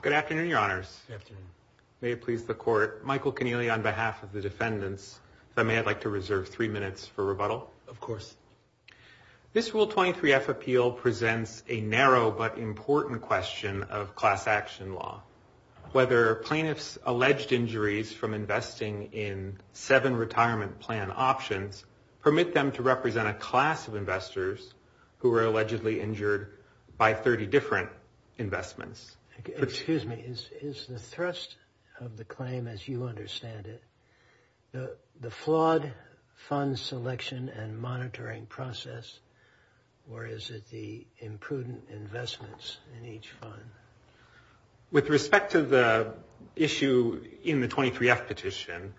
Good afternoon, Your Honors. Good afternoon. May it please the Court. Michael Connealy on behalf of the defendants. If I may, I'd like to reserve three minutes for rebuttal. Of course. This Rule 23-F appeal presents a narrow but important question of class action law. Whether plaintiffs' alleged injuries from investing in seven retirement plan options permit them to represent a class of investors who were allegedly injured by 30 different investments. Excuse me. Is the thrust of the claim as you understand it the flawed fund selection and monitoring process, or is it the imprudent investments in each fund? With respect to the issue in the 23-F petition,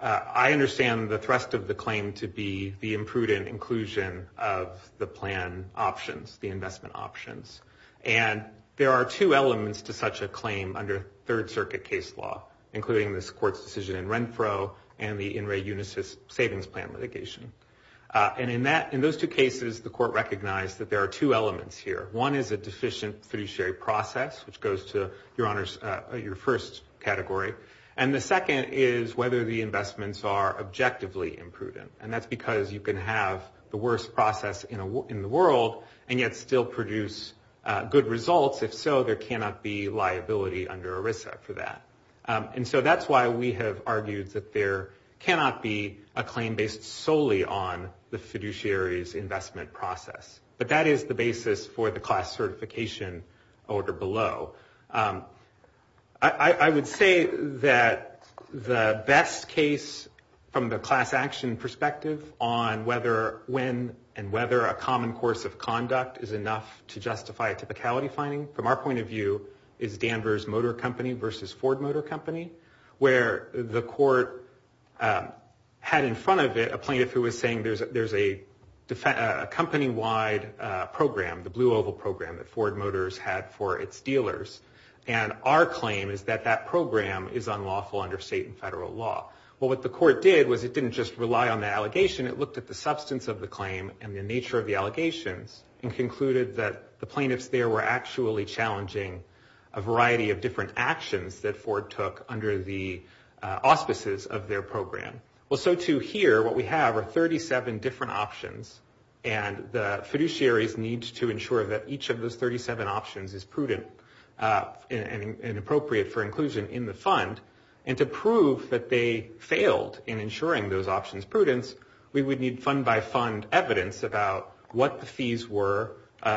I understand the thrust of the claim to be the imprudent inclusion of the plan options, the investment options. And there are two elements to such a claim under Third Circuit case law, including this Court's decision in Renfro and the In Re Unisys Savings Plan litigation. And in those two cases, the Court recognized that there are two elements here. One is a deficient fiduciary process, which goes to, Your Honors, your first category. And the second is whether the investments are objectively imprudent. And that's because you can have the worst process in the world and yet still produce good results. If so, there cannot be liability under ERISA for that. And so that's why we have argued that there cannot be a claim based solely on the fiduciary's investment process. But that is the basis for the class certification order below. I would say that the best case from the class action perspective on whether when and whether a common course of conduct is enough to justify a typicality finding, from our point of view, is Danvers Motor Company versus Ford Motor Company, where the Court had in front of it a plaintiff who was saying there's a company-wide program, the Blue Oval Program that Ford Motors had for its dealers. And our claim is that that program is unlawful under state and federal law. Well, what the Court did was it didn't just rely on the allegation. It looked at the substance of the claim and the nature of the allegations and concluded that the plaintiffs there were actually challenging a variety of different actions that Ford took under the auspices of their program. Well, so to here, what we have are 37 different options, and the fiduciaries need to ensure that each of those 37 options is prudent and appropriate for inclusion in the fund. And to prove that they failed in ensuring those options prudence, we would need fund-by-fund evidence about what the fees were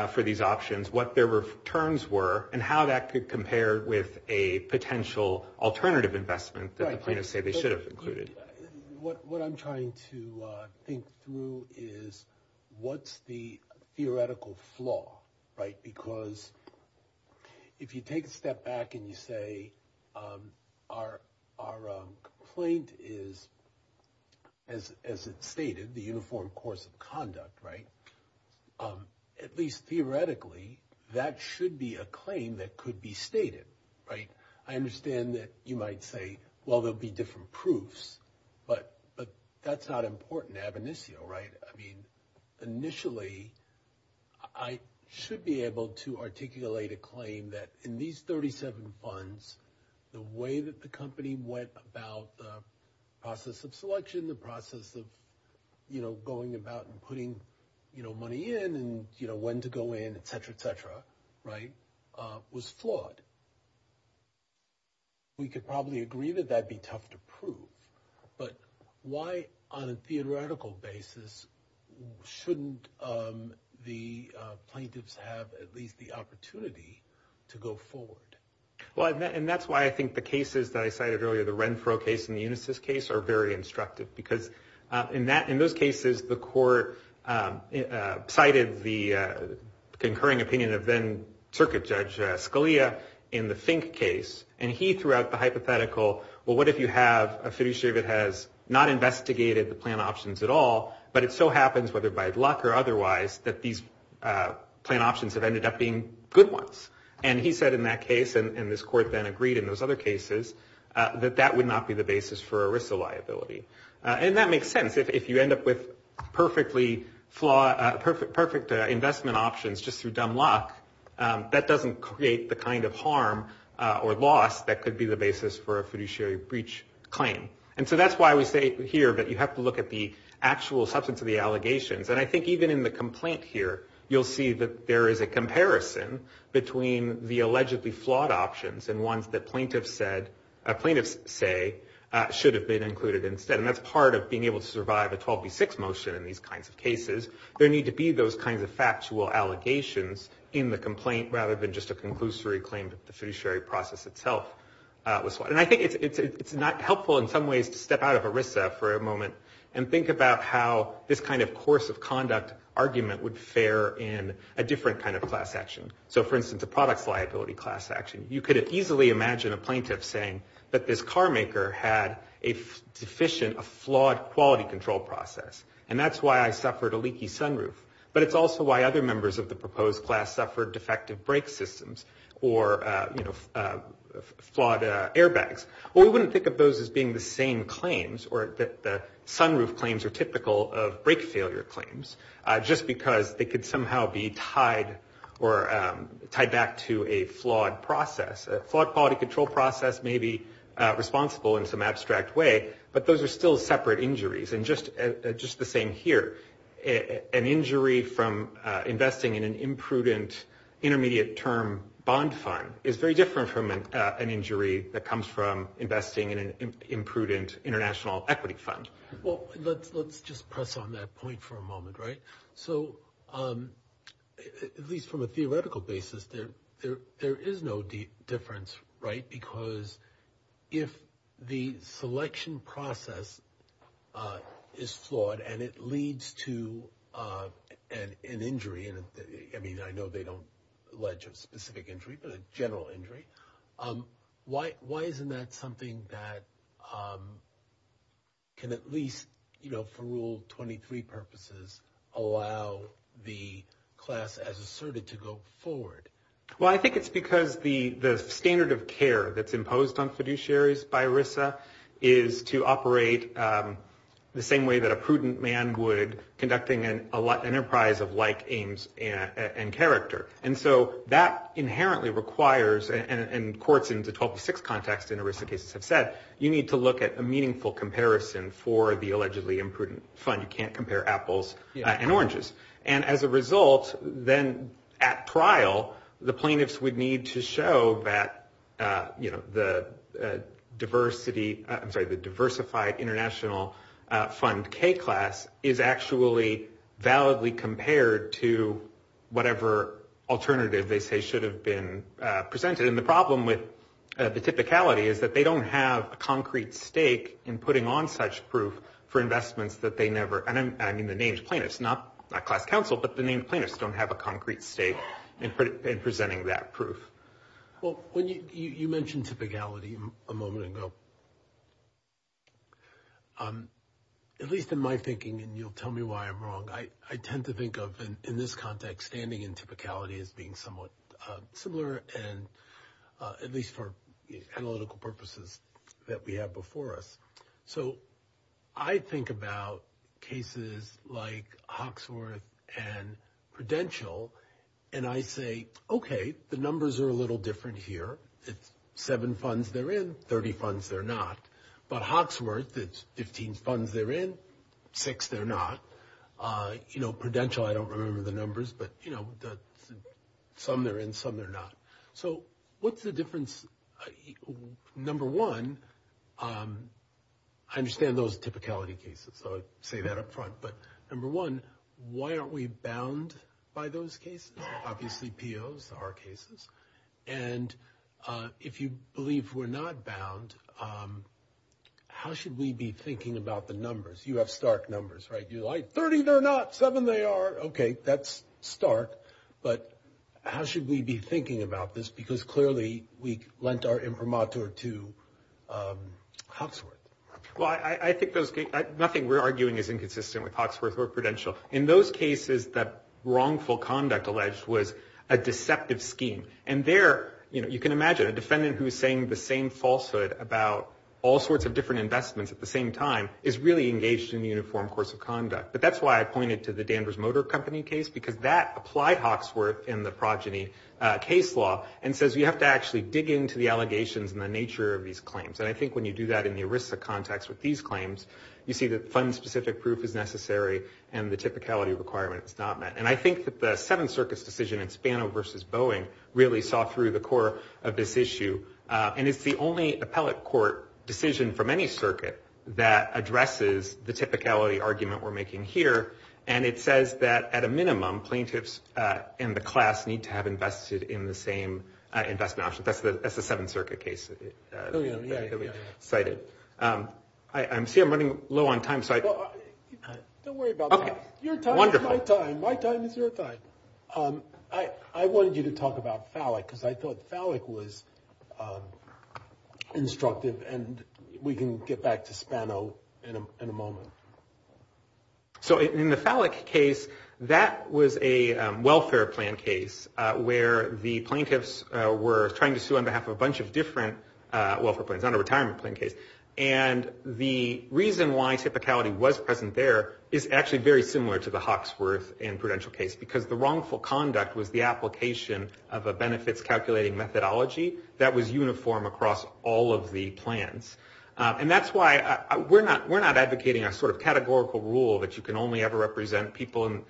for these options, what their returns were, and how that could compare with a potential alternative investment that the plaintiffs say they should have included. What I'm trying to think through is what's the theoretical flaw, right? Because if you take a step back and you say, our complaint is, as it's stated, the uniform course of conduct, right? At least theoretically, that should be a claim that could be stated, right? I understand that you might say, well, there'll be different proofs, but that's not important ab initio, right? I mean, initially, I should be able to articulate a claim that in these 37 funds, the way that the company went about the process of selection, the process of going about and putting money in and, you know, when to go in, et cetera, et cetera, right, was flawed. We could probably agree that that'd be tough to prove, but why, on a theoretical basis, shouldn't the plaintiffs have at least the opportunity to go forward? Well, and that's why I think the cases that I cited earlier, the Renfro case and the Unisys case, are very instructive, because in those cases, the court cited the concurring opinion of then Circuit Judge Scalia in the Fink case, and he threw out the hypothetical, well, what if you have a fiduciary that has not investigated the plan options at all, but it so happens, whether by luck or otherwise, that these plan options have ended up being good ones? And he said in that case, and this court then agreed in those other cases, that that would not be the basis for ERISA liability. And that makes sense. If you end up with perfectly flawed, perfect investment options just through dumb luck, that doesn't create the kind of harm or loss that could be the basis for a fiduciary breach claim. And so that's why we say here that you have to look at the actual substance of the allegations. And I think even in the complaint here, you'll see that there is a comparison between the allegedly plaintiff's say should have been included instead. And that's part of being able to survive a 12B6 motion in these kinds of cases. There need to be those kinds of factual allegations in the complaint rather than just a conclusory claim that the fiduciary process itself was flawed. And I think it's not helpful in some ways to step out of ERISA for a moment and think about how this kind of course of conduct argument would fare in a different kind of class action. So, for instance, a products liability class action. You could easily imagine a plaintiff saying that this carmaker had a deficient, a flawed quality control process. And that's why I suffered a leaky sunroof. But it's also why other members of the proposed class suffered defective brake systems or, you know, flawed airbags. Well, we wouldn't think of those as being the same claims or that the sunroof claims are typical of brake failure claims just because they could somehow be tied or tied back to a flawed process. A flawed quality control process may be responsible in some abstract way, but those are still separate injuries. And just the same here. An injury from investing in an imprudent intermediate term bond fund is very different from an injury that comes from investing in an imprudent international equity fund. Well, let's just press on that point for a moment, right? So, at least from a theoretical basis, there is no difference, right? Because if the selection process is flawed and it leads to an injury, I mean, I know they don't allege a specific injury, but a general injury, why isn't that something that can at least, you know, for Rule 23 purposes, allow the class as asserted to go forward? Well, I think it's because the standard of care that's imposed on fiduciaries by RISA is to operate the same way that a prudent man would conducting an enterprise of like aims and character. And so that inherently requires, and courts in the 12 to 6 context in RISA cases have said, you need to look at a meaningful comparison for the allegedly imprudent fund. You can't compare apples and oranges. And as a result, then at trial, the plaintiffs would need to show that, you know, the diversity, I'm sorry, the diversified international fund K-class is actually validly compared to whatever alternative they say should have been presented. And the problem with the typicality is that they don't have a concrete stake in putting on such proof for investments that they never, and I mean the named plaintiffs, not class counsel, but the named plaintiffs don't have a concrete stake in presenting that proof. Well, you mentioned typicality a moment ago. At least in my thinking, and you'll tell me why I'm wrong, I tend to think of in this context standing in typicality as being somewhat similar, and at least for analytical purposes that we have before us. So I think about cases like Hawksworth and Prudential, and I say, okay, the numbers are a little different here. It's 7 funds they're in, 30 funds they're not. But Hawksworth, it's 15 funds they're in, 6 they're not. Prudential, I don't remember the numbers, but some they're in, some they're not. So what's the difference? Number one, I understand those typicality cases, so I say that up front. But number one, why aren't we bound by those cases? Obviously POs are cases. And if you believe we're not bound, how should we be thinking about the numbers? You have stark numbers, right? You're like, 30 they're not, 7 they are. Okay, that's stark. But how should we be thinking about this? Because clearly we lent our imprimatur to Hawksworth. Well, I think nothing we're arguing is inconsistent with Hawksworth or Prudential. In those cases, that wrongful conduct alleged was a deceptive scheme. And there, you can imagine, a defendant who is saying the same falsehood about all sorts of different investments at the same time is really engaged in a uniform course of conduct. But that's why I pointed to the Danvers Motor Company case, because that applied Hawksworth in the progeny case law and says you have to actually dig into the allegations and the nature of these claims. And I think when you do that in the ERISA context with these claims, you see that fund-specific proof is necessary and the typicality requirement is not met. And I think that the Seventh Circuit's decision in Spano v. Boeing really saw through the core of this issue. And it's the only appellate court decision from any circuit that addresses the typicality argument we're making here. And it says that at a minimum, plaintiffs and the class need to have invested in the same investment option. That's the Seventh Circuit case that we cited. I see I'm running low on time. Don't worry about time. Your time is my time. My time is your time. I wanted you to talk about Fallick, because I thought Fallick was instructive, and we can get back to Spano in a moment. So in the Fallick case, that was a welfare plan case where the plaintiffs were trying to sue on behalf of a bunch of different welfare plans, not a retirement plan case. And the reason why typicality was present there is actually very similar to the Hawksworth and prudential case, because the wrongful conduct was the application of a benefits-calculating methodology that was uniform across all of the plans. And that's why we're not advocating a sort of categorical rule that you can only ever represent people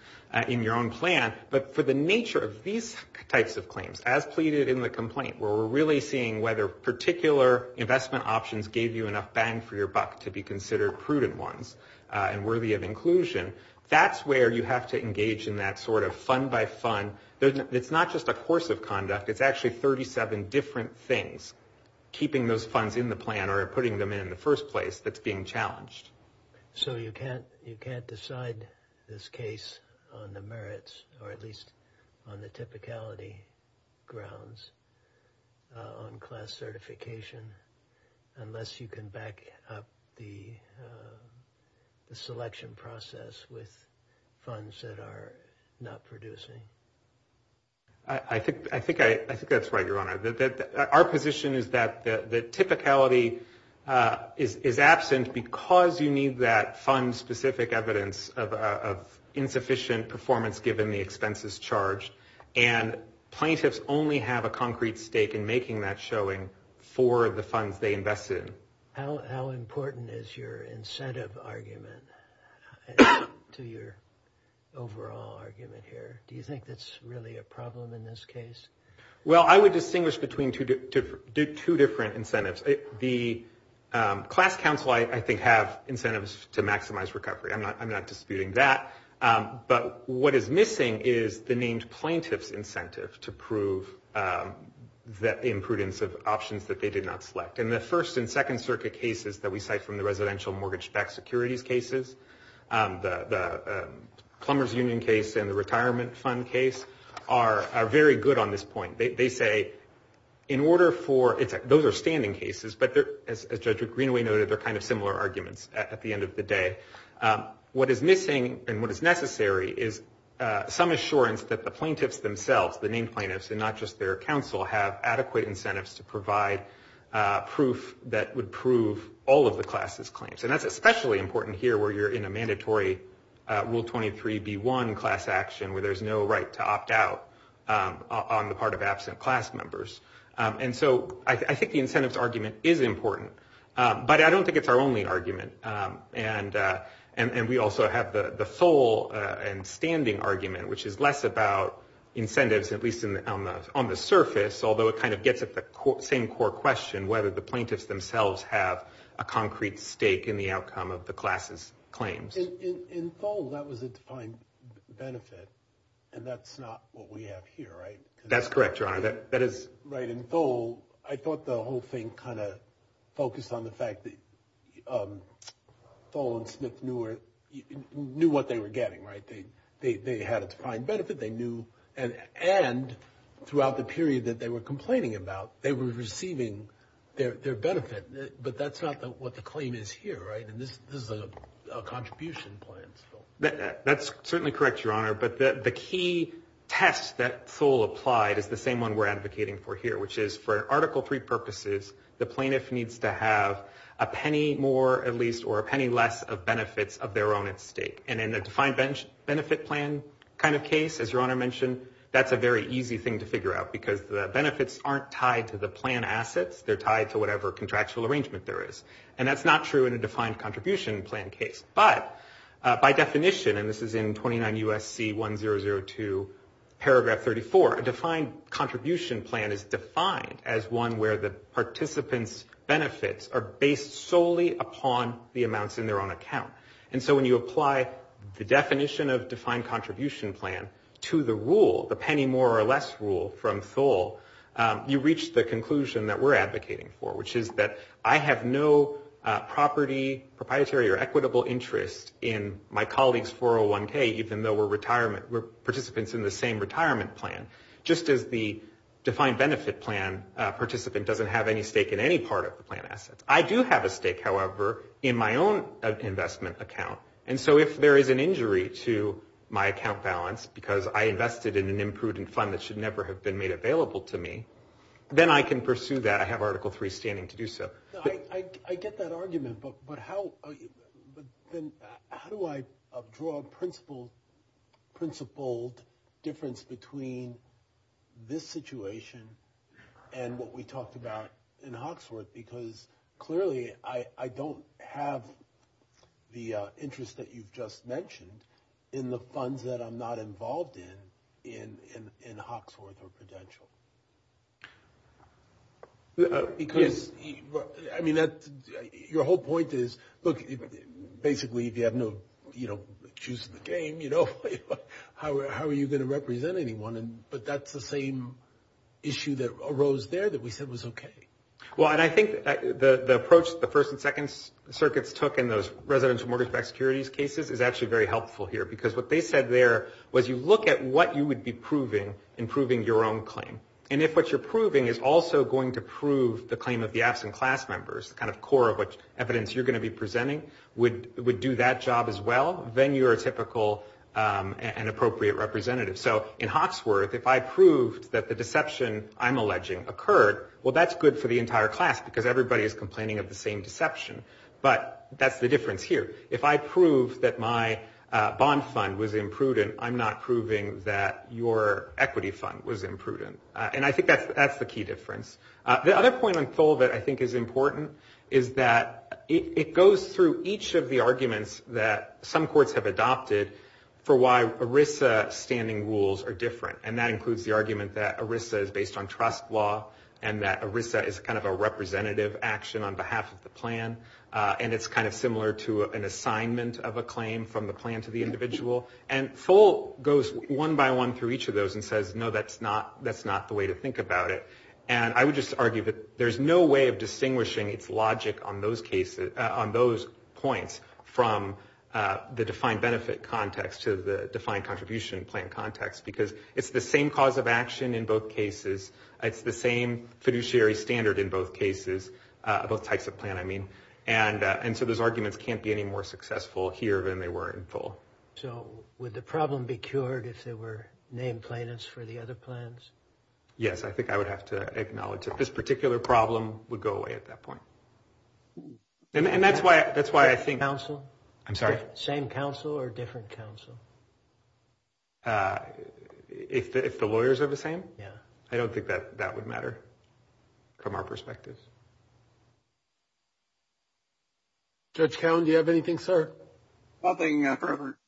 in your own plan, but for the nature of these types of claims, as pleaded in the complaint, where we're really seeing whether particular investment options gave you enough bang for your buck to be considered prudent ones and worthy of inclusion, that's where you have to engage in that sort of fund-by-fund. It's not just a course of conduct. It's actually 37 different things, keeping those funds in the plan or putting them in the first place, that's being challenged. So you can't decide this case on the merits, or at least on the typicality grounds, on class certification, unless you can back up the selection process with funds that are not producing. I think that's right, Your Honor. Our position is that the typicality is absent because you need that fund-specific evidence of insufficient performance given the expenses charged, and plaintiffs only have a concrete stake in making that showing for the funds they invest in. How important is your incentive argument to your overall argument here? Do you think that's really a problem in this case? Well, I would distinguish between two different incentives. The class counsel, I think, have incentives to maximize recovery. I'm not disputing that. But what is missing is the named plaintiff's incentive to prove the imprudence of options that they did not select. And the First and Second Circuit cases that we cite from the residential mortgage-backed securities cases, the plumber's union case and the retirement fund case, are very good on this point. They say, in order for... Those are standing cases, but as Judge McGreenaway noted, they're kind of similar arguments at the end of the day. What is missing and what is necessary is some assurance that the plaintiffs themselves, the named plaintiffs, and not just their counsel, have adequate incentives to provide proof that would prove all of the class's claims. And that's especially important here where you're in a mandatory Rule 23b-1 class action where there's no right to opt out on the part of absent class members. And so I think the incentives argument is important. But I don't think it's our only argument. And we also have the full and standing argument, which is less about incentives, at least on the surface, although it kind of gets at the same core question, whether the plaintiffs themselves have a concrete stake in the outcome of the class's claims. In full, that was a defined benefit, That's correct, Your Honor. Right, in full, I thought the whole thing kind of focused on the fact that Full and Smith knew what they were getting, right? They had a defined benefit. And throughout the period that they were complaining about, they were receiving their benefit. But that's not what the claim is here, right? This is a contribution plan. That's certainly correct, Your Honor. But the key test that Thole applied is the same one we're advocating for here, which is, for Article III purposes, the plaintiff needs to have a penny more, at least, or a penny less of benefits of their own at stake. And in a defined benefit plan kind of case, as Your Honor mentioned, that's a very easy thing to figure out because the benefits aren't tied to the plan assets, they're tied to whatever contractual arrangement there is. And that's not true in a defined contribution plan case. But by definition, and this is in 29 U.S.C. 1002 paragraph 34, a defined contribution plan is defined as one where the participant's benefits are based solely upon the amounts in their own account. And so when you apply the definition of defined contribution plan to the rule, the penny more or less rule from Thole, you reach the conclusion that we're advocating for, which is that I have no property, proprietary, or equitable interest in my colleague's 401K, even though we're participants in the same retirement plan, just as the defined benefit plan participant doesn't have any stake in any part of the plan assets. I do have a stake, however, in my own investment account. And so if there is an injury to my account balance because I invested in an imprudent fund that should never have been made available to me, then I can pursue that. I have Article III standing to do so. I get that argument, but how do I draw a principled difference between this situation and what we talked about in Hawksworth? Because clearly I don't have the interest that you've just mentioned in the funds that I'm not involved in in Hawksworth or Prudential. Because, I mean, your whole point is, look, basically if you have no shoes in the game, how are you going to represent anyone? But that's the same issue that arose there that we said was okay. Well, and I think the approach the first and second circuits took in those residential mortgage-backed securities cases is actually very helpful here, because what they said there was you look at what you would be proving in proving your own claim. And if what you're proving is also going to prove the claim of the absent class members, the kind of core of which evidence you're going to be presenting, would do that job as well, then you're a typical and appropriate representative. So in Hawksworth, if I proved that the deception I'm alleging occurred, well, that's good for the entire class because everybody is complaining of the same deception. But that's the difference here. If I prove that my bond fund was imprudent, I'm not proving that your equity fund was imprudent. And I think that's the key difference. The other point on Tholvitt I think is important is that it goes through each of the arguments that some courts have adopted for why ERISA standing rules are different. And that includes the argument that ERISA is based on trust law and that ERISA is kind of a representative action on behalf of the plan. And it's kind of similar to an assignment of a claim from the plan to the individual. And Thol goes one by one through each of those and says, no, that's not the way to think about it. And I would just argue that there's no way of distinguishing its logic on those points from the defined benefit context to the defined contribution plan context because it's the same cause of action in both cases. It's the same fiduciary standard in both cases, both types of plan, I mean. And so those arguments can't be any more successful here than they were in Thol. So would the problem be cured if there were named plaintiffs for the other plans? Yes, I think I would have to acknowledge that this particular problem would go away at that point. And that's why I think... Same counsel or different counsel? If the lawyers are the same? Yeah. I don't think that that would matter from our perspective. Judge Cowen, do you have anything, sir? Nothing, Your Honor.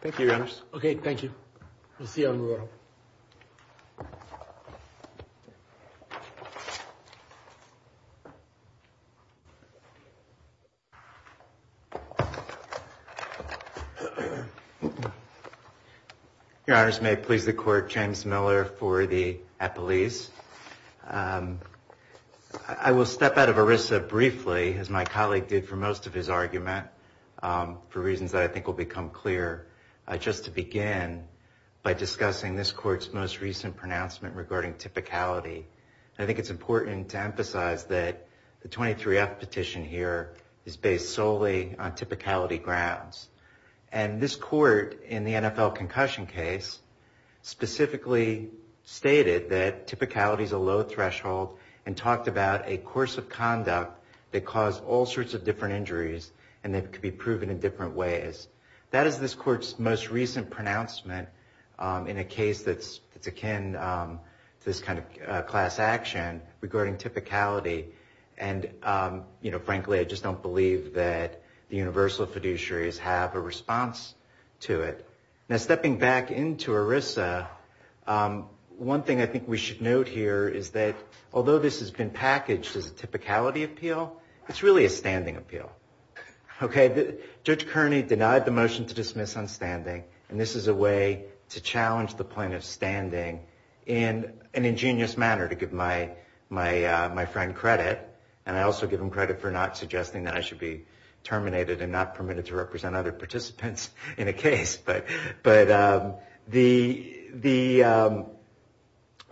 Thank you, Your Honor. Okay, thank you. We'll see you on the roll. Thank you. Your Honors, may it please the Court, James Miller for the appellees. I will step out of ERISA briefly, as my colleague did for most of his argument, for reasons that I think will become clear. Just to begin by discussing this Court's most recent pronouncement regarding typicality. I think it's important to emphasize that the 23F petition here is based solely on typicality grounds. And this Court, in the NFL concussion case, specifically stated that typicality is a low threshold and talked about a course of conduct that caused all sorts of different injuries and that could be proven in different ways. That is this Court's most recent pronouncement in a case that's akin to this kind of class action regarding typicality. And frankly, I just don't believe that the universal fiduciaries have a response to it. Now, stepping back into ERISA, one thing I think we should note here is that although this has been packaged as a typicality appeal, it's really a standing appeal. Okay, Judge Kearney denied the motion to dismiss on standing, and this is a way to challenge the point of standing in an ingenious manner, to give my friend credit. And I also give him credit for not suggesting that I should be terminated and not permitted to represent other participants in a case. But the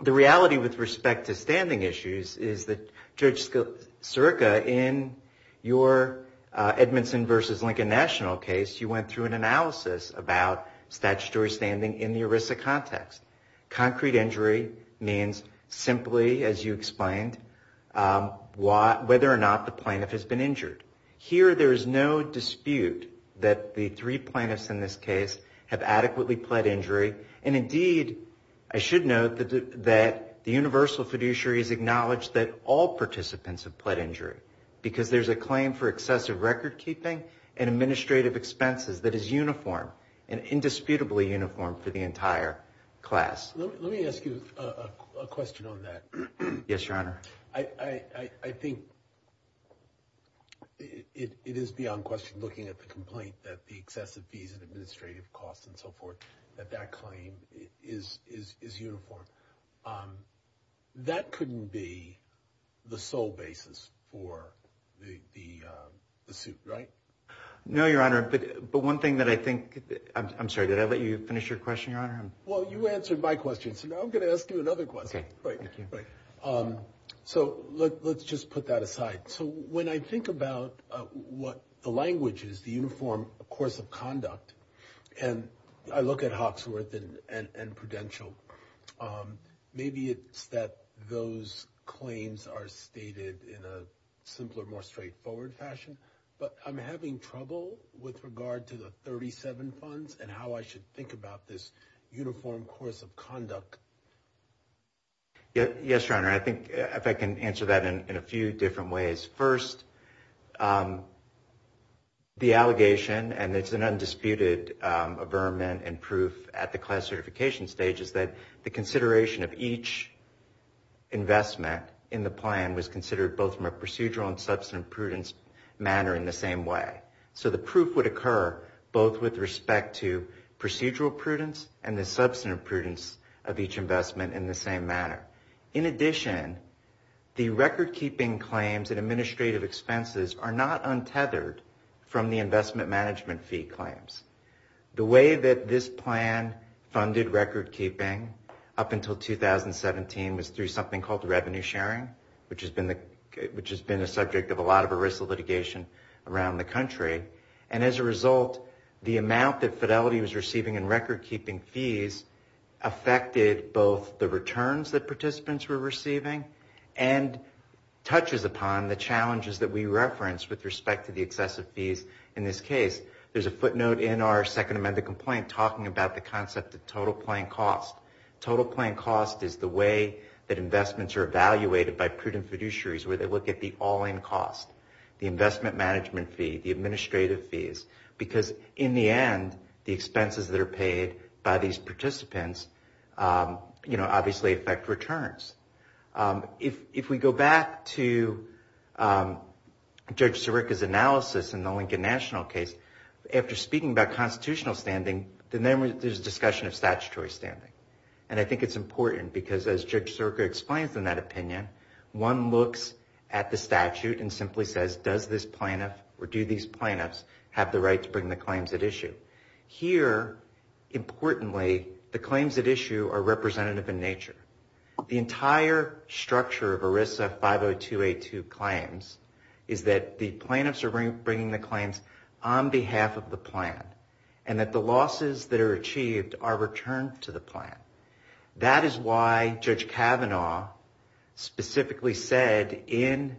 reality with respect to standing issues is that Judge Sirica, in your Edmondson v. Lincoln National case, you went through an analysis about statutory standing in the ERISA context. Concrete injury means simply, as you explained, whether or not the plaintiff has been injured. Here, there is no dispute that the three plaintiffs in this case have adequately pled injury. And indeed, I should note that the universal fiduciaries acknowledge that all participants have pled injury because there's a claim for excessive record keeping and administrative expenses that is uniform and indisputably uniform for the entire class. Let me ask you a question on that. Yes, Your Honor. I think it is beyond question looking at the complaint that the excessive fees and administrative costs and so forth that that claim is uniform. That couldn't be the sole basis for the suit, right? No, Your Honor. But one thing that I think... I'm sorry, did I let you finish your question, Your Honor? Well, you answered my question. So now I'm going to ask you another question. So let's just put that aside. So when I think about what the language is, the uniform course of conduct, and I look at Hawksworth and Prudential, maybe it's that those claims are stated in a simpler, more straightforward fashion. But I'm having trouble with regard to the 37 funds and how I should think about this uniform course of conduct. Yes, Your Honor. I think if I can answer that in a few different ways. First, the allegation, and it's an undisputed averment and proof at the class certification stage, is that the consideration of each investment in the plan was considered both from a procedural and substantive prudence manner in the same way. So the proof would occur both with respect to procedural prudence and the substantive prudence of each investment in the same manner. In addition, the record-keeping claims and administrative expenses are not untethered from the investment management fee claims. The way that this plan funded record-keeping up until 2017 was through something called revenue sharing, which has been the subject of a lot of arrestal litigation around the country. And as a result, the amount that Fidelity was receiving in record-keeping fees affected both the returns that participants were receiving and touches upon the challenges that we referenced with respect to the excessive fees in this case. There's a footnote in our Second Amendment complaint talking about the concept of total plan cost. Total plan cost is the way that investments are evaluated by prudent fiduciaries where they look at the all-in cost, the investment management fee, the administrative fees, because in the end, the expenses that are paid by these participants obviously affect returns. If we go back to Judge Sirica's analysis in the Lincoln National case, after speaking about constitutional standing, then there's a discussion of statutory standing. And I think it's important because, as Judge Sirica explains in that opinion, one looks at the statute and simply says, does this plaintiff or do these plaintiffs have the right to bring the claims at issue? Here, importantly, the claims at issue are representative in nature. The entire structure of ERISA 50282 claims is that the plaintiffs are bringing the claims on behalf of the plan and that the losses that are achieved are returned to the plan. That is why Judge Kavanaugh specifically said in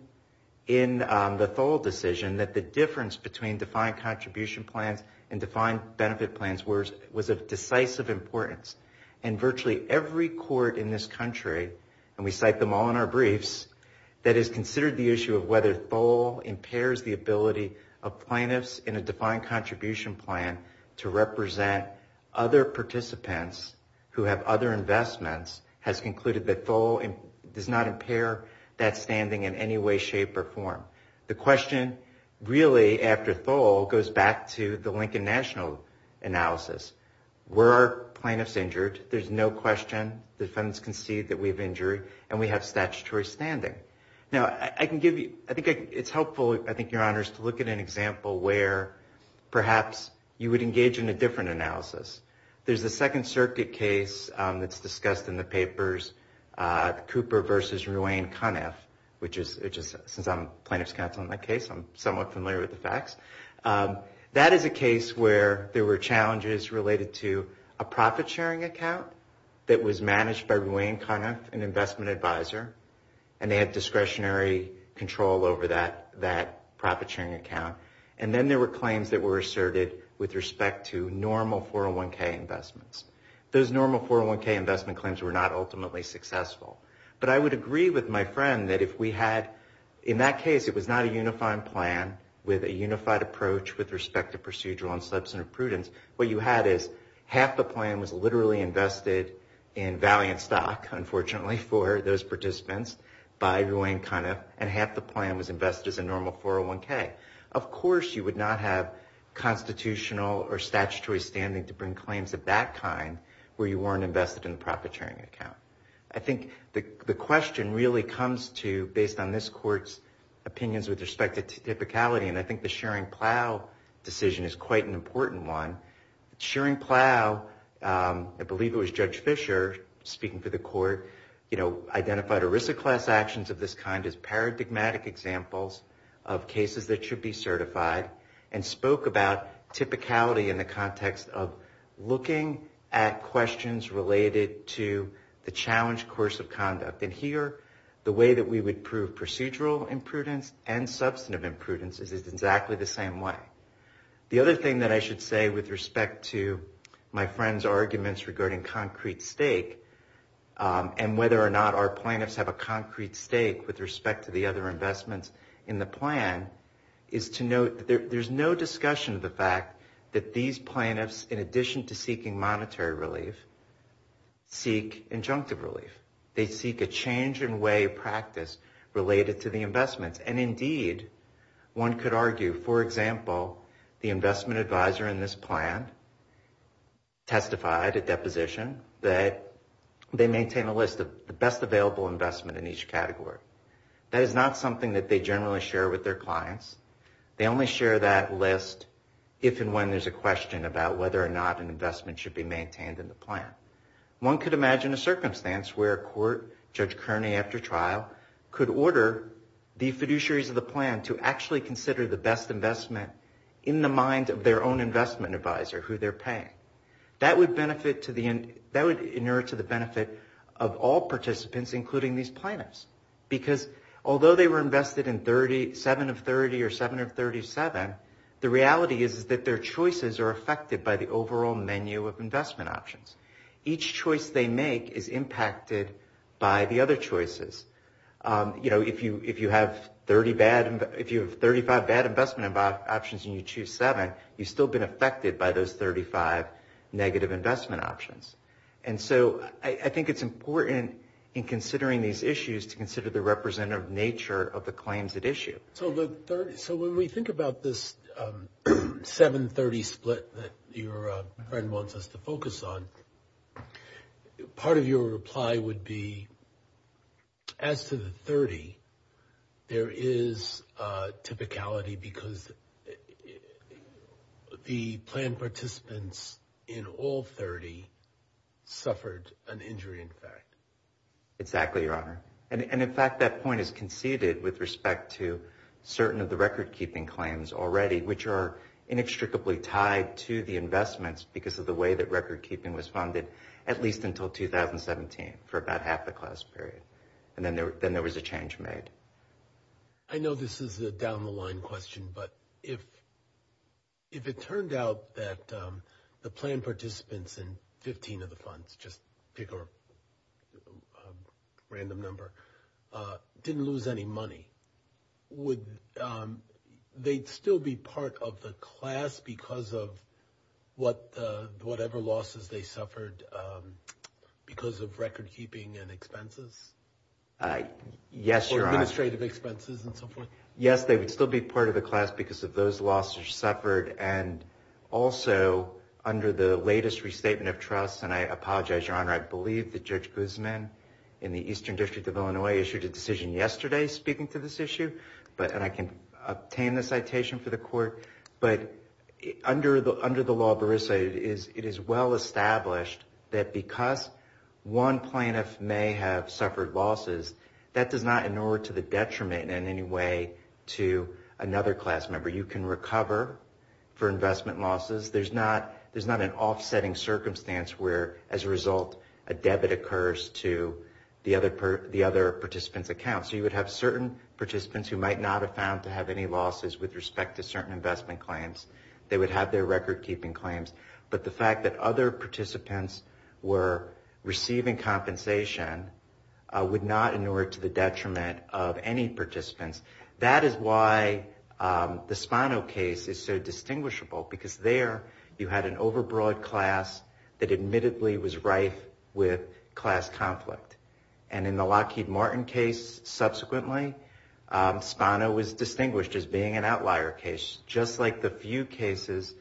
the Thole decision that the difference between defined contribution plans and defined benefit plans was of decisive importance. And virtually every court in this country, and we cite them all in our briefs, that has considered the issue of whether Thole impairs the ability of plaintiffs in a defined contribution plan to represent other participants who have other investments, has concluded that Thole does not The question really, after Thole, goes back to the Lincoln National analysis. Were our plaintiffs injured? There's no question the defendants concede that we have injury and we have statutory standing. Now, I can give you, I think it's helpful, I think, Your Honors, to look at an example where perhaps you would engage in a different analysis. There's a Second Circuit case that's discussed in the papers, Cooper versus Ruane Cunniff, which is, since I'm plaintiff's counsel in that case, I'm somewhat familiar with the facts. That is a case where there were challenges related to a profit-sharing account that was managed by Ruane Cunniff, an investment advisor, and they had discretionary control over that profit-sharing account. And then there were claims that were asserted with respect to normal 401k investments. Those normal 401k investment claims were not ultimately successful. But I would agree with my friend that if we had, in that case, it was not a unifying plan with a unified approach with respect to procedural and substantive prudence. What you had is half the plan was literally invested in valiant stock, unfortunately, for those participants by Ruane Cunniff, and half the plan was invested as a normal 401k. Of course you would not have constitutional or statutory standing to bring claims of that kind where you weren't invested in the profit-sharing account. I think the question really comes to, based on this Court's opinions with respect to typicality, and I think the Shearing-Plow decision is quite an important one. Shearing-Plow, I believe it was Judge Fischer speaking for the Court, identified ERISA class actions of this kind as paradigmatic examples of cases that should be certified, and spoke about typicality in the context of looking at questions related to the challenged course of conduct. And here, the way that we would prove procedural imprudence and substantive imprudence is exactly the same way. The other thing that I should say with respect to my friend's arguments regarding concrete stake, and whether or not our plaintiffs have a concrete stake with respect to the other investments in the plan, is to note that there's no discussion of the fact that these plaintiffs, in addition to seeking monetary relief, seek injunctive relief. They seek a change in way of practice related to the investments. And indeed, one could argue, for example, the investment advisor in this plan testified at deposition that they maintain a list of the best available investment in each category. That is not something that they generally share with their clients. They only share that list if and when there's a question about whether or not an investment should be maintained in the plan. One could imagine a circumstance where a court, Judge Kearney after trial, could order the fiduciaries of the plan to actually consider the best investment in the mind of their own investment advisor, who they're paying. That would inure to the benefit of all participants, including these plaintiffs. Because although they were invested in 7 of 30 or 7 of 37, the reality is that their choices are affected by the overall menu of investment options. Each choice they make is impacted by the other choices. If you have 35 bad investment options and you choose 7, you've still been affected by those 35 negative investment options. I think it's important in considering these issues to consider the representative nature of the claims at issue. When we think about this 7-30 split that your friend wants us to focus on, part of your reply would be as to the 30, there is a typicality because the plan participants in all 30 suffered an injury in fact. Exactly, Your Honor. And in fact, that point is conceded with respect to certain of the record-keeping claims already, which are inextricably tied to the investments because of the way that record-keeping was funded at least until 2017 for about half the class period. And then there was a change made. I know this is a down-the-line question, but if it turned out that the plan participants in 15 of the funds just pick a random number, didn't lose any money, would they still be part of the class because of whatever losses they suffered because of record-keeping and expenses? Yes, Your Honor. Or administrative expenses and so forth? Yes, they would still be part of the class because of those losses suffered and also under the latest restatement of trust, and I apologize Your Honor, I believe that Judge Guzman in the Eastern District of Illinois issued a decision yesterday speaking to this issue and I can obtain the citation for the court but under the law it is well established that because one plaintiff may have suffered losses that does not inure to the detriment in any way to another class member. You can recover for investment losses. There's not an offsetting circumstance where as a result a debit occurs to the other participant's account. So you would have certain participants who might not have found to have any losses with respect to certain investment claims. They would have their record-keeping claims. But the fact that other participants were not inured to the detriment of any participants that is why the Spano case is so distinguishable because there you had an over-broad class that admittedly was rife with class conflict. And in the Lockheed Martin case subsequently, Spano was distinguished as being an outlier case just like the few cases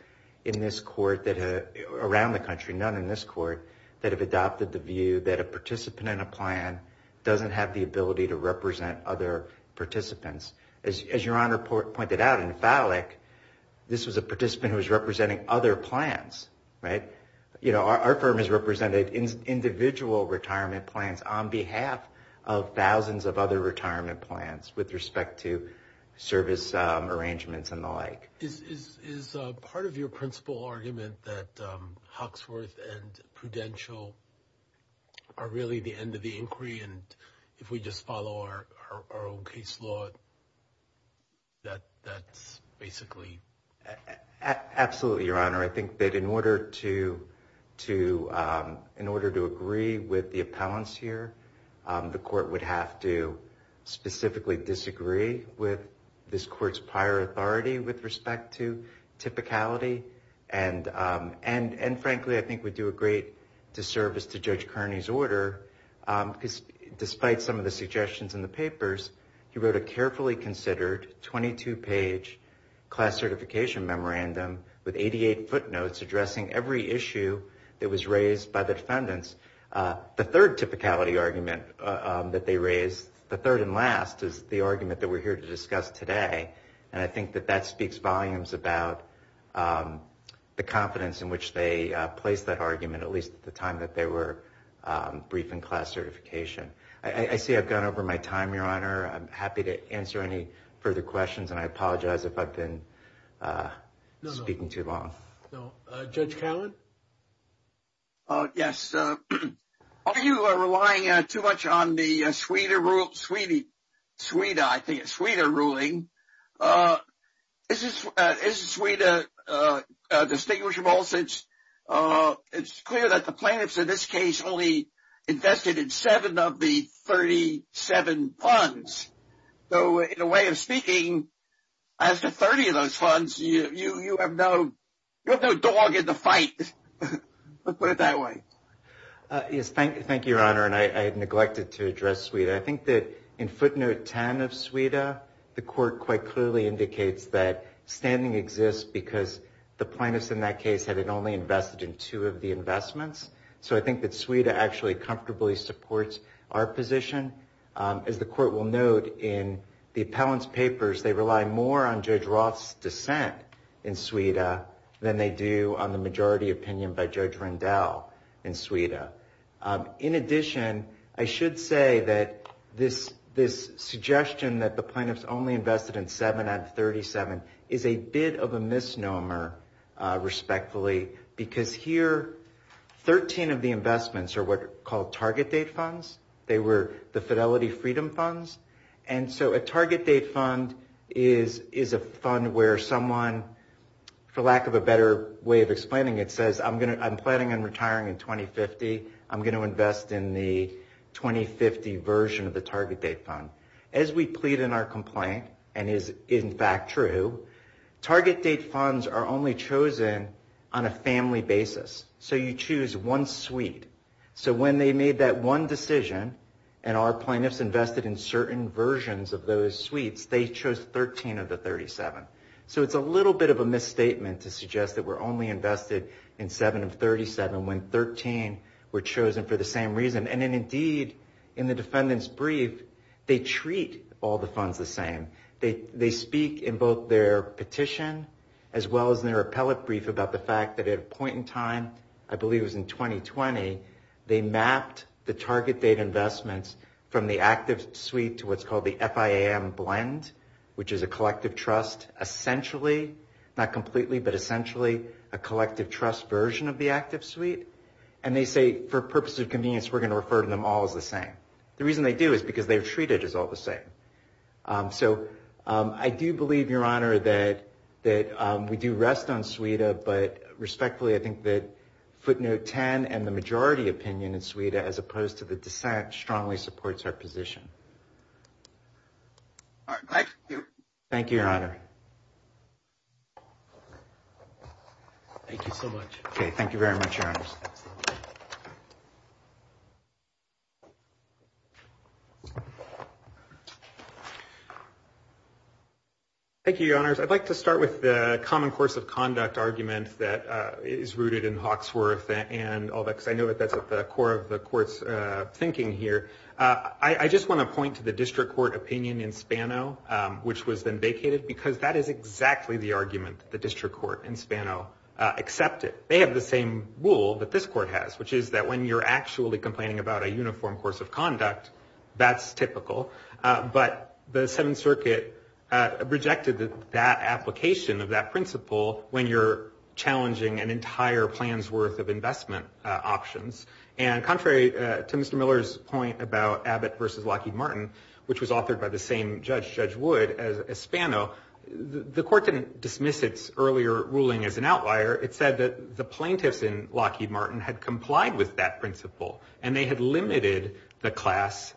in this court around the country, none in this court, that have adopted the view that a participant in a plan doesn't have the ability to represent other participants. As your Honor pointed out in Fallick this was a participant who was representing other plans. Our firm has represented individual retirement plans on behalf of thousands of other retirement plans with respect to service arrangements and the like. Is part of your principle argument that are really the end of the inquiry and if we just follow our own case law that's basically... Absolutely, Your Honor. I think that in order to agree with the appellants here, the court would have to specifically disagree with this court's prior authority with respect to typicality and frankly I think we do a great disservice to Judge Kearney's order because despite some of the suggestions in the papers, he wrote a carefully considered 22 page class certification memorandum with 88 footnotes addressing every issue that was raised by the defendants. The third typicality argument that they raised the third and last is the argument that we're here to discuss today and I think that that speaks volumes about the confidence in which they placed that argument at least at the time that they were briefing class certification. I see I've gone over my time, Your Honor. I'm happy to answer any further questions and I apologize if I've been speaking too long. Judge Cowen? Yes. Are you relying too much on the Sweden ruling? Is Sweden distinguishable since it's clear that the plaintiffs in this case only invested in seven of the 37 funds? So in a way of speaking, as to 30 of those funds, you have no dog in the fight. Let's put it that way. Yes. Thank you, Your Honor. And I neglected to address Sweden. I think that in footnote 10 of Sweden, the court quite clearly indicates that standing exists because the plaintiffs in that case had only invested in two of the investments. So I think that Sweden actually comfortably supports our position. As the court will note in the appellant's papers, they rely more on Judge Roth's dissent in Sweden than they do on the majority opinion by Judge Rendell in Sweden. In addition, I should say that this suggestion that the plaintiffs only invested in seven out of 37 is a bit of a misnomer, respectfully, because here 13 of the investments are what are called target date funds. They were the fidelity freedom funds. And so a target date fund is a fund where someone, for lack of a better way of explaining it, says I'm planning on retiring in 2050. I'm going to invest in the 2050 version of the target date fund. As we plead in our complaint, and is in fact true, target date funds are only chosen on a family basis. So you choose one suite. So when they made that one decision and our plaintiffs invested in certain versions of those suites, they chose 13 of the 37. So it's a little bit of a misstatement to suggest that we're only invested in seven of 37 when 13 were chosen for the same reason. And then indeed in the defendant's brief, they treat all the funds the same. They speak in both their petition, as well as their appellate brief about the fact that at a point in time, I believe it was in 2020, they mapped the target date investments from the active suite to what's called the FIAM blend, which is a collective trust essentially, not completely, but essentially a collective trust version of the active suite. And they say, for purposes of convenience, we're going to refer to them all as the same. The reason they do is because they're treated as all the same. So I do believe, Your Honor, that we do rest on SWETA, but respectfully, I think that footnote 10 and the majority opinion in SWETA, as opposed to the dissent, strongly supports our position. Thank you. Thank you, Your Honor. Thank you so much. Thank you very much, Your Honors. Thank you, Your Honors. I'd like to start with the common course of conduct argument that is rooted in Hawksworth and all that, because I know that that's at the core of the court's thinking here. I just want to point to the district court opinion in Spano, which was then vacated, because that is exactly the argument that the district court in Spano accepted. They have the same rule that this court has, which is that when you're actually complaining about a uniform course of conduct, that's typical. But the Seventh Circuit rejected that application of that principle when you're challenging an entire plan's worth of investment options. And contrary to Mr. Miller's point about Abbott versus Lockheed Martin, which was authored by the same judge, Judge Wood, as Spano, the court didn't dismiss its earlier ruling as an outlier. It said that the plaintiffs in Lockheed Martin had complied with that principle, and they had limited the class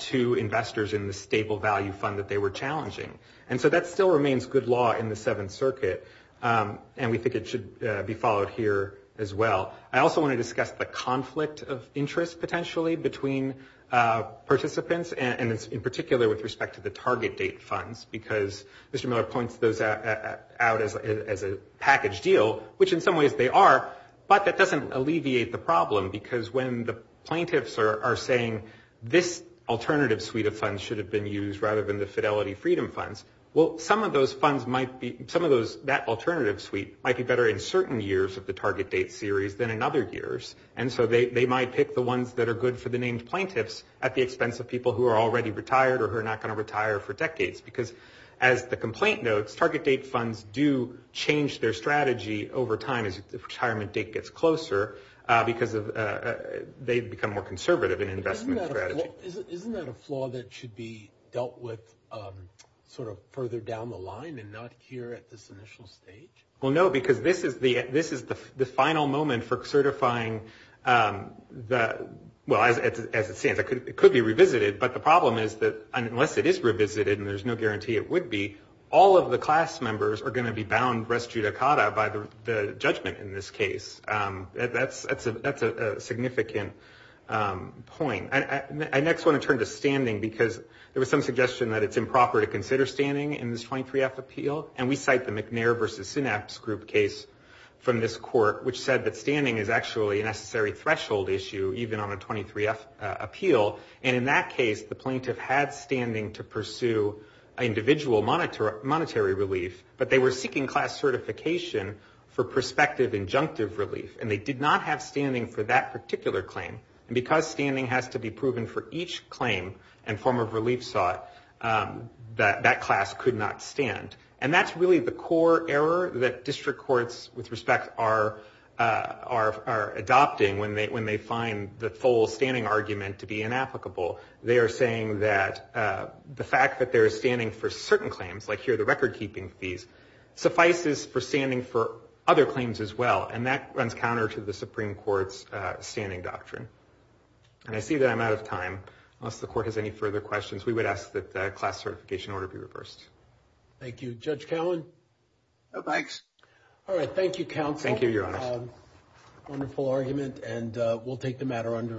to investors in the stable value fund that they were challenging. And so that still remains good law in the Seventh Circuit, and we think it should be followed here as well. I also want to discuss the conflict of interest potentially between participants and in particular with respect to the target date funds, because Mr. Miller points those out as a package deal, which in some ways they are, but that doesn't alleviate the problem, because when the plaintiffs are saying this alternative suite of funds should have been used rather than the Fidelity Freedom funds, well, some of those funds might be some of those, that alternative suite might be better in certain years of the target date series than in other years, and so they might pick the ones that are good for the named plaintiffs at the expense of people who are already retired or who are not going to retire for decades, because as the complaint notes, target date funds do change their strategy over time as the retirement date gets closer, because they become more conservative in investment strategy. Isn't that a flaw that should be dealt with sort of further down the line and not here at this initial stage? Well, no, because this is the final moment for certifying the, well, as it stands, it could be revisited, but the problem is that unless it is revisited, and there's no guarantee it would be, all of the class members are going to be bound res judicata by the judgment in this case. That's a significant point. I next want to turn to consider standing in this 23F appeal, and we cite the McNair v. Synapse Group case from this court, which said that standing is actually a necessary threshold issue even on a 23F appeal, and in that case, the plaintiff had standing to pursue individual monetary relief, but they were seeking class certification for prospective injunctive relief, and they did not have standing for that particular claim, and because standing has to be proven for each claim and form of relief sought, that class could not stand, and that's really the core error that district courts, with respect, are adopting when they find the full standing argument to be inapplicable. They are saying that the fact that they're standing for certain claims, like here the record-keeping fees, suffices for standing for other claims as well, and that runs counter to the Supreme Court's standing doctrine. And I see that I'm out of time. Unless the court has any further questions, we would ask that the class certification order be reversed. Thank you. Judge Cowan? No, thanks. Alright, thank you, counsel. Thank you, Your Honor. Wonderful argument, and we'll take the matter under advisement.